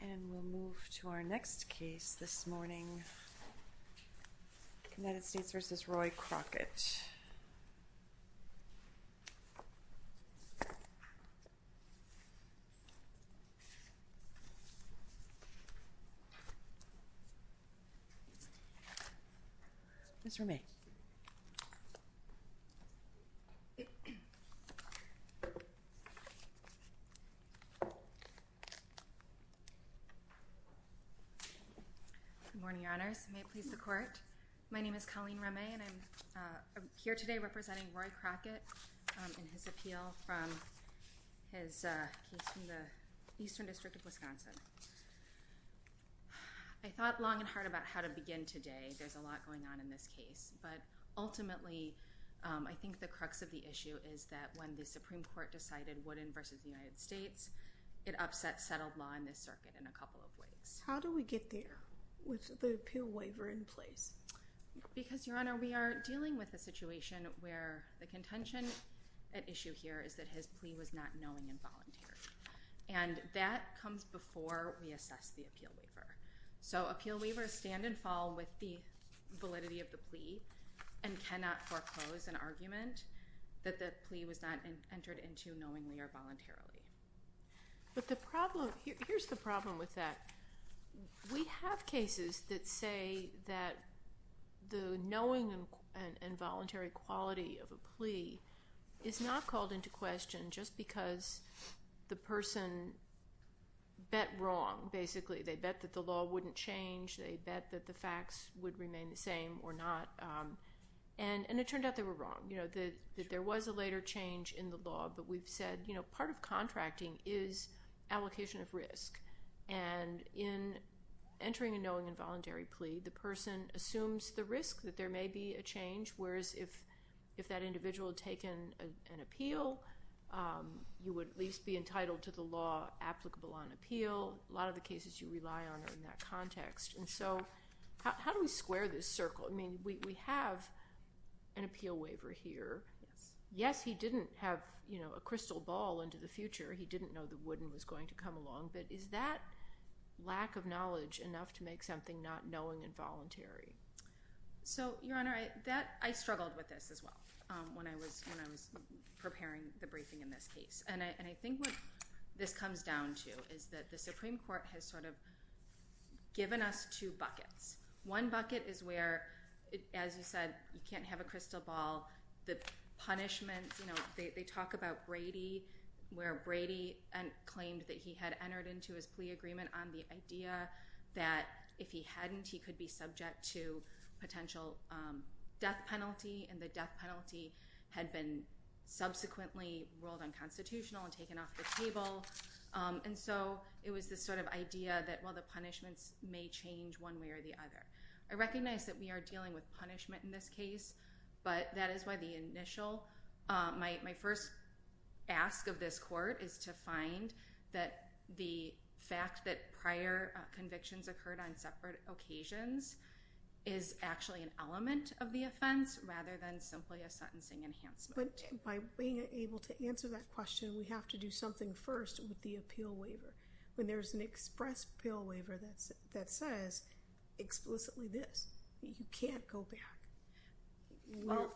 And we'll move to our next case this morning, United States v. Roy Crockett. Mr. May. Good morning, Your Honors. May it please the Court. My name is Colleen Remy, and I'm here today representing Roy Crockett in his appeal from his case from the Eastern District of Wisconsin. I thought long and hard about how to begin today. There's a lot going on in this case. But ultimately, I think the crux of the issue is that when the Supreme Court decided Wooden v. United States, it upset settled law in this circuit in a couple of ways. How do we get there with the appeal waiver in place? Because, Your Honor, we are dealing with a situation where the contention at issue here is that his plea was not knowing and voluntary. And that comes before we assess the appeal waiver. So appeal waivers stand and fall with the validity of the plea and cannot foreclose an argument that the plea was not entered into knowingly or voluntarily. But the problem, here's the problem with that. We have cases that say that the knowing and voluntary quality of a plea is not called into question just because the person bet wrong, basically. They bet that the law wouldn't change. They bet that the facts would remain the same or not. And it turned out they were wrong. You know, that there was a later change in the law. But we've said, you know, part of contracting is allocation of risk. And in entering a knowing and voluntary plea, the person assumes the risk that there may be a change. Whereas if that individual had taken an appeal, you would at least be entitled to the law applicable on appeal. A lot of the cases you rely on are in that context. And so how do we square this circle? I mean, we have an appeal waiver here. Yes, he didn't have, you know, a crystal ball into the future. He didn't know the wooden was going to come along. But is that lack of knowledge enough to make something not knowing and voluntary? So, Your Honor, I struggled with this as well when I was preparing the briefing in this case. And I think what this comes down to is that the Supreme Court has sort of given us two buckets. One bucket is where, as you said, you can't have a crystal ball. The punishment, you know, they talk about Brady, where Brady claimed that he had entered into his plea agreement on the idea that if he hadn't, he could be subject to potential death penalty. And the death penalty had been subsequently ruled unconstitutional and taken off the table. And so it was this sort of idea that, well, the punishments may change one way or the other. I recognize that we are dealing with punishment in this case, but that is why the initial, my first ask of this court is to find that the fact that prior convictions occurred on separate occasions is actually an element of the offense rather than simply a sentencing enhancement. But by being able to answer that question, we have to do something first with the appeal waiver. When there's an express appeal waiver that says explicitly this, you can't go back. Well,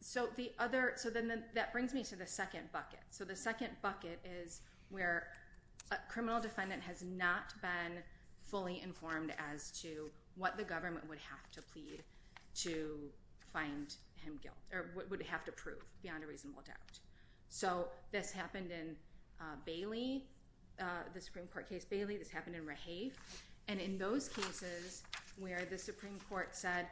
so the other, so then that brings me to the second bucket. So the second bucket is where a criminal defendant has not been fully informed as to what the government would have to plead to find him guilt, or would have to prove beyond a reasonable doubt. So this happened in Bailey, the Supreme Court case Bailey. This happened in Rahave. And in those cases where the Supreme Court said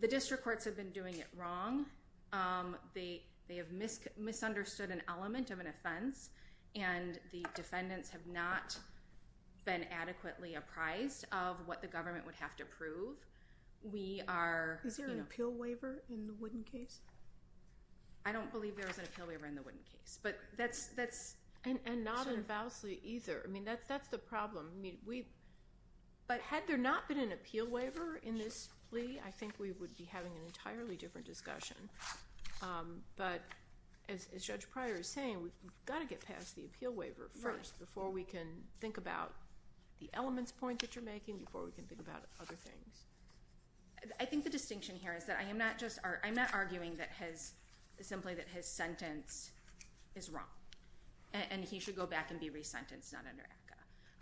the district courts have been doing it wrong, they have misunderstood an element of an offense, and the defendants have not been adequately apprised of what the government would have to prove. We are... Is there an appeal waiver in the Wooden case? I don't believe there is an appeal waiver in the Wooden case. But that's... And not in Valsley either. I mean, that's the problem. But had there not been an appeal waiver in this plea, I think we would be having an entirely different discussion. But as Judge Pryor is saying, we've got to get past the appeal waiver first before we can think about the elements point that you're making, before we can think about other things. I think the distinction here is that I am not just, I'm not arguing that his... simply that his sentence is wrong. And he should go back and be resentenced, not under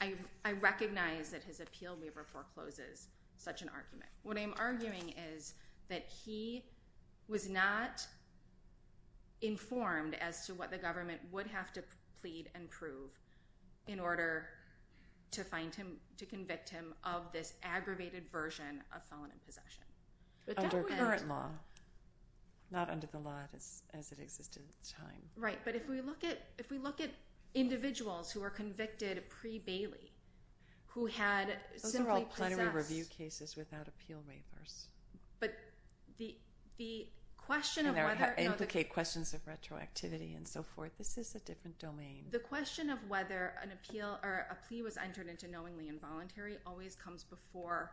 ACCA. I recognize that his appeal waiver forecloses such an argument. What I'm arguing is that he was not informed as to what the government would have to plead and prove in order to find him, to convict him of this aggravated version of felon in possession. Under current law. Not under the law as it existed at the time. Right, but if we look at individuals who were convicted pre-Bailey, who had simply possessed... Those are all plenary review cases without appeal waivers. But the question of whether... And they implicate questions of retroactivity and so forth. This is a different domain. The question of whether an appeal, or a plea was entered into knowingly involuntary always comes before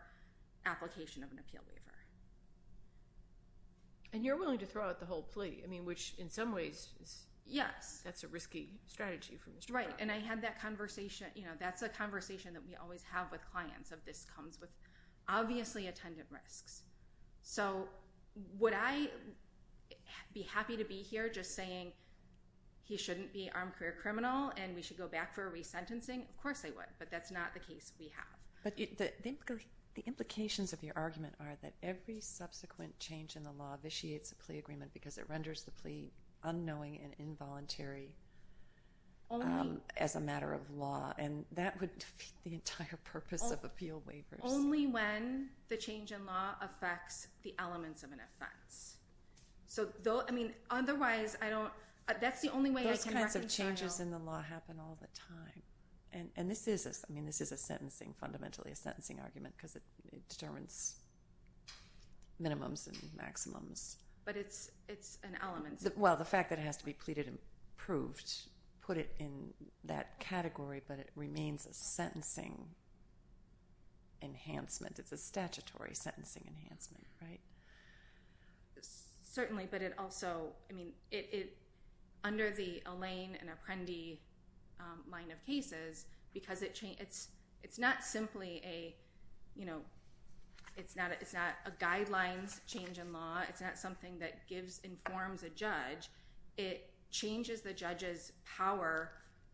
application of an appeal waiver. And you're willing to throw out the whole plea. I mean, which in some ways... Yes. That's a risky strategy for Mr. Brown. Right, and I had that conversation. You know, that's a conversation that we always have with clients, of this comes with obviously attendant risks. So would I be happy to be here just saying he shouldn't be an armed career criminal and we should go back for a resentencing? Of course I would, but that's not the case we have. But the implications of your argument are that every subsequent change in the law vitiates a plea agreement because it renders the plea unknowing and involuntary as a matter of law. And that would defeat the entire purpose of appeal waivers. Only when the change in law affects the elements of an offense. So, I mean, otherwise, I don't... That's the only way I can reconcile... Those kinds of changes in the law happen all the time. And this is, I mean, this is a sentencing, fundamentally a sentencing argument because it determines minimums and maximums. But it's an element... Well, the fact that it has to be pleaded and approved put it in that category, but it remains a sentencing enhancement. It's a statutory sentencing enhancement, right? Certainly, but it also, I mean, under the Elaine and Apprendi line of cases because it's not simply a, you know, it's not a guidelines change in law. It's not something that gives, informs a judge. It changes the judge's power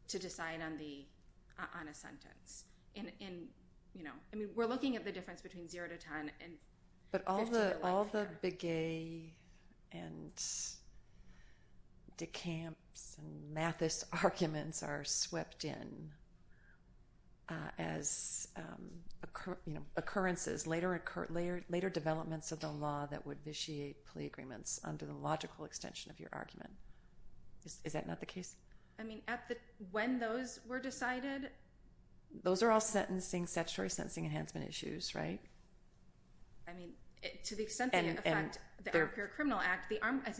to decide on a sentence. And, you know, I mean, we're looking at the difference between zero to 10. But all the Begay and DeCamps and Mathis arguments are swept in. As, you know, occurrences, later developments of the law that would vitiate plea agreements under the logical extension of your argument. Is that not the case? I mean, when those were decided... Those are all sentencing, statutory sentencing enhancement issues, right? I mean, to the extent that they affect the Appropriate Criminal Act,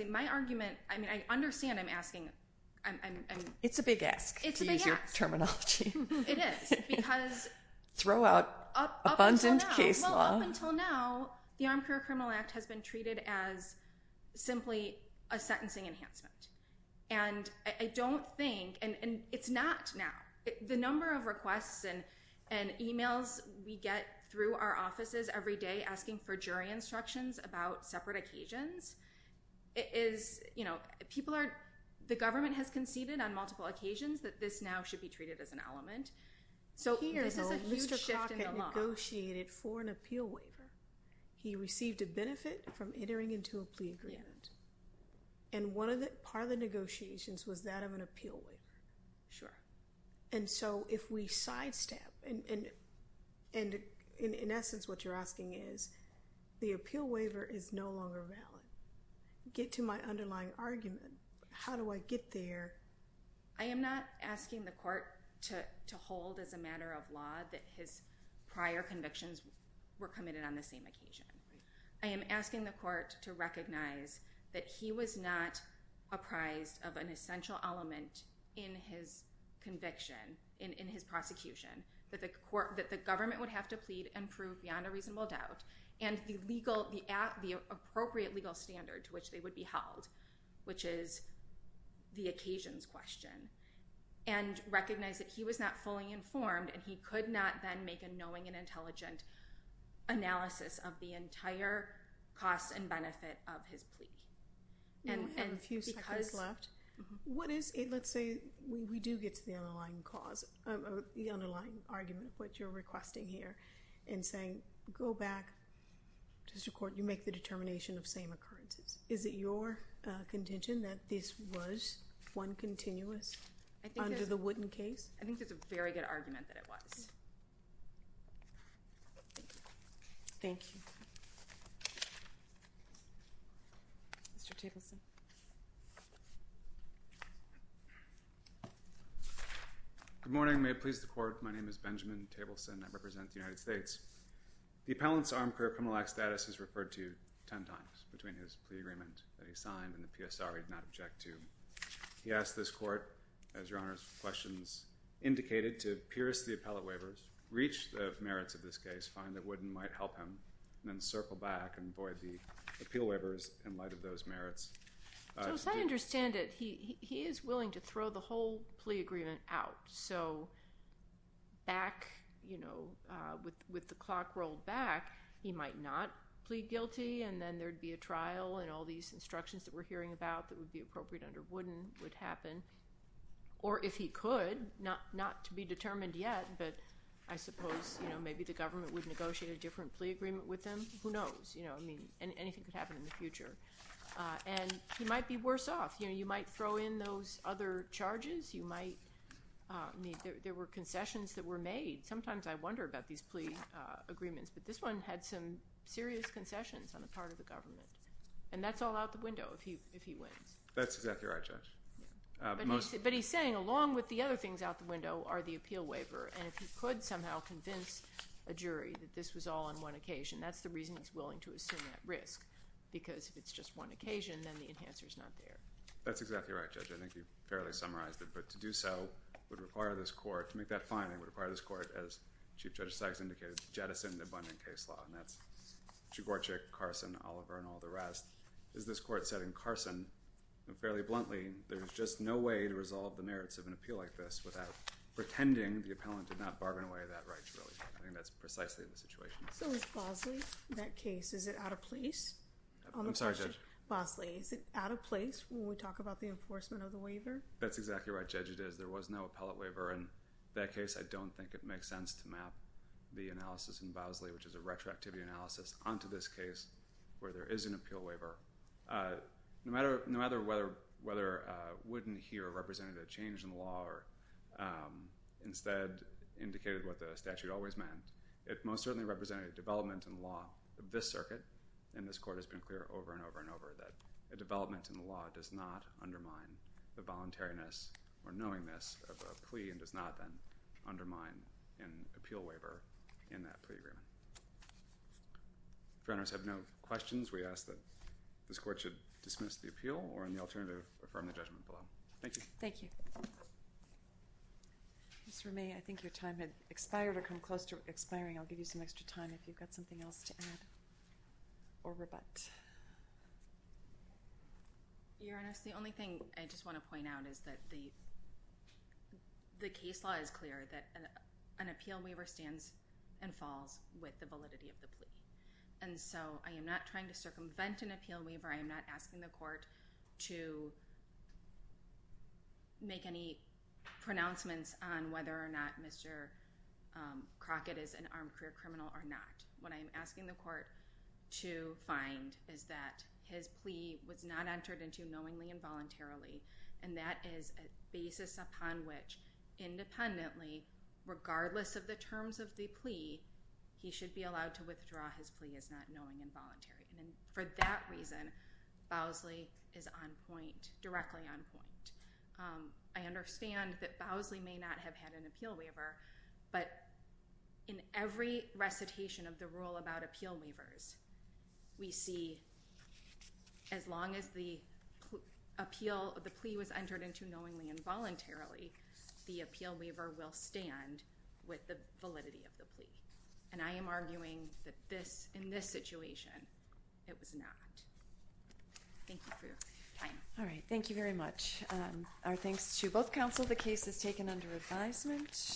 my argument, I mean, I understand I'm asking... It's a big ask to use your terminology. It is because... Throw out abundant case law. Well, up until now, the Armed Career Criminal Act has been treated as simply a sentencing enhancement. And I don't think... And it's not now. The number of requests and emails we get through our offices every day asking for jury instructions about separate occasions is, you know, people are... The government has conceded on multiple occasions that this now should be treated as an element. So here, though, Mr. Crockett negotiated for an appeal waiver. He received a benefit from entering into a plea agreement. And one of the... Part of the negotiations was that of an appeal waiver. Sure. And so if we sidestep... And in essence, what you're asking is, the appeal waiver is no longer valid. Get to my underlying argument. How do I get there? I am not asking the court to hold as a matter of law that his prior convictions were committed on the same occasion. I am asking the court to recognize that he was not apprised of an essential element in his conviction, in his prosecution, that the government would have to plead and prove beyond a reasonable doubt, and the legal... The appropriate legal standard to which they would be held, in relation to his convictions question. And recognize that he was not fully informed, and he could not then make a knowing and intelligent analysis of the entire cost and benefit of his plea. And because... We have a few seconds left. What is... Let's say we do get to the underlying cause, the underlying argument of what you're requesting here, and saying, go back to the court. You make the determination of same occurrences. Is it your contention that this was one continuous under the Wooden case? I think that's a very good argument that it was. Thank you. Mr. Tableson. Good morning. May it please the court. My name is Benjamin Tableson. I represent the United States. The appellant's armed career criminal act status is referred to 10 times between his plea agreement that he signed and the PSR he did not object to. He asked this court, as your Honor's questions indicated, to pierce the appellate waivers, reach the merits of this case, find that Wooden might help him, and then circle back and void the appeal waivers in light of those merits. So as I understand it, he is willing to throw the whole plea agreement out. So back, you know, with the clock rolled back, he might not plead guilty, and then there'd be a trial and all these instructions that we're hearing about that would be appropriate under Wooden would happen. Or if he could, not to be determined yet, but I suppose, you know, maybe the government would negotiate a different plea agreement with him. Who knows? You know, I mean, anything could happen in the future. And he might be worse off. You know, you might throw in those other charges. You might, I mean, there were concessions that were made. Sometimes I wonder about these plea agreements, but this one had some serious concessions on the part of the government. And that's all out the window if he wins. That's exactly right, Judge. But he's saying, along with the other things out the window are the appeal waiver, and if he could somehow convince a jury that this was all on one occasion, that's the reason he's willing to assume that risk, because if it's just one occasion, then the enhancer's not there. That's exactly right, Judge. I think you fairly summarized it, but to do so would require this court, and then case law, and that's Czigorczyk, Carson, Oliver, and all the rest. As this court said in Carson, fairly bluntly, there's just no way to resolve the merits of an appeal like this without pretending the appellant did not bargain away that right truly. I think that's precisely the situation. So is Bosley, that case, is it out of place on the question? I'm sorry, Judge. Bosley, is it out of place when we talk about the enforcement of the waiver? That's exactly right, Judge, it is. We've put a lot of research, which is a retroactivity analysis, onto this case where there is an appeal waiver. No matter whether Wooden here represented a change in the law or instead indicated what the statute always meant, it most certainly represented a development in the law of this circuit, and this court has been clear over and over and over that a development in the law does not undermine the voluntariness or knowingness of a plea and does not then undermine an appeal waiver in that plea agreement. If your Honors have no questions, we ask that this court should dismiss the appeal or in the alternative, affirm the judgment below. Thank you. Thank you. Ms. Remy, I think your time has expired or come close to expiring. I'll give you some extra time if you've got something else to add or rebut. Your Honors, the only thing I just want to point out is that the case law is clear and an appeal waiver stands and falls with the validity of the plea. And so I am not trying to circumvent an appeal waiver. I am not asking the court to make any pronouncements on whether or not Mr. Crockett is an armed career criminal or not. What I am asking the court to find is that his plea was not entered into knowingly and voluntarily, and that is a basis upon which, independently, regardless of the terms of the plea, he should be allowed to withdraw his plea as not knowingly and voluntarily. And for that reason, Bowsley is on point, directly on point. I understand that Bowsley may not have had an appeal waiver, but in every recitation of the rule about appeal waivers, we see as long as the appeal, the plea was entered into knowingly and voluntarily, the appeal waiver will stand with the validity of the plea. And I am arguing that this, in this situation, it was not. Thank you for your time. Alright, thank you very much. Our thanks to both counsel. The case is taken under advisement.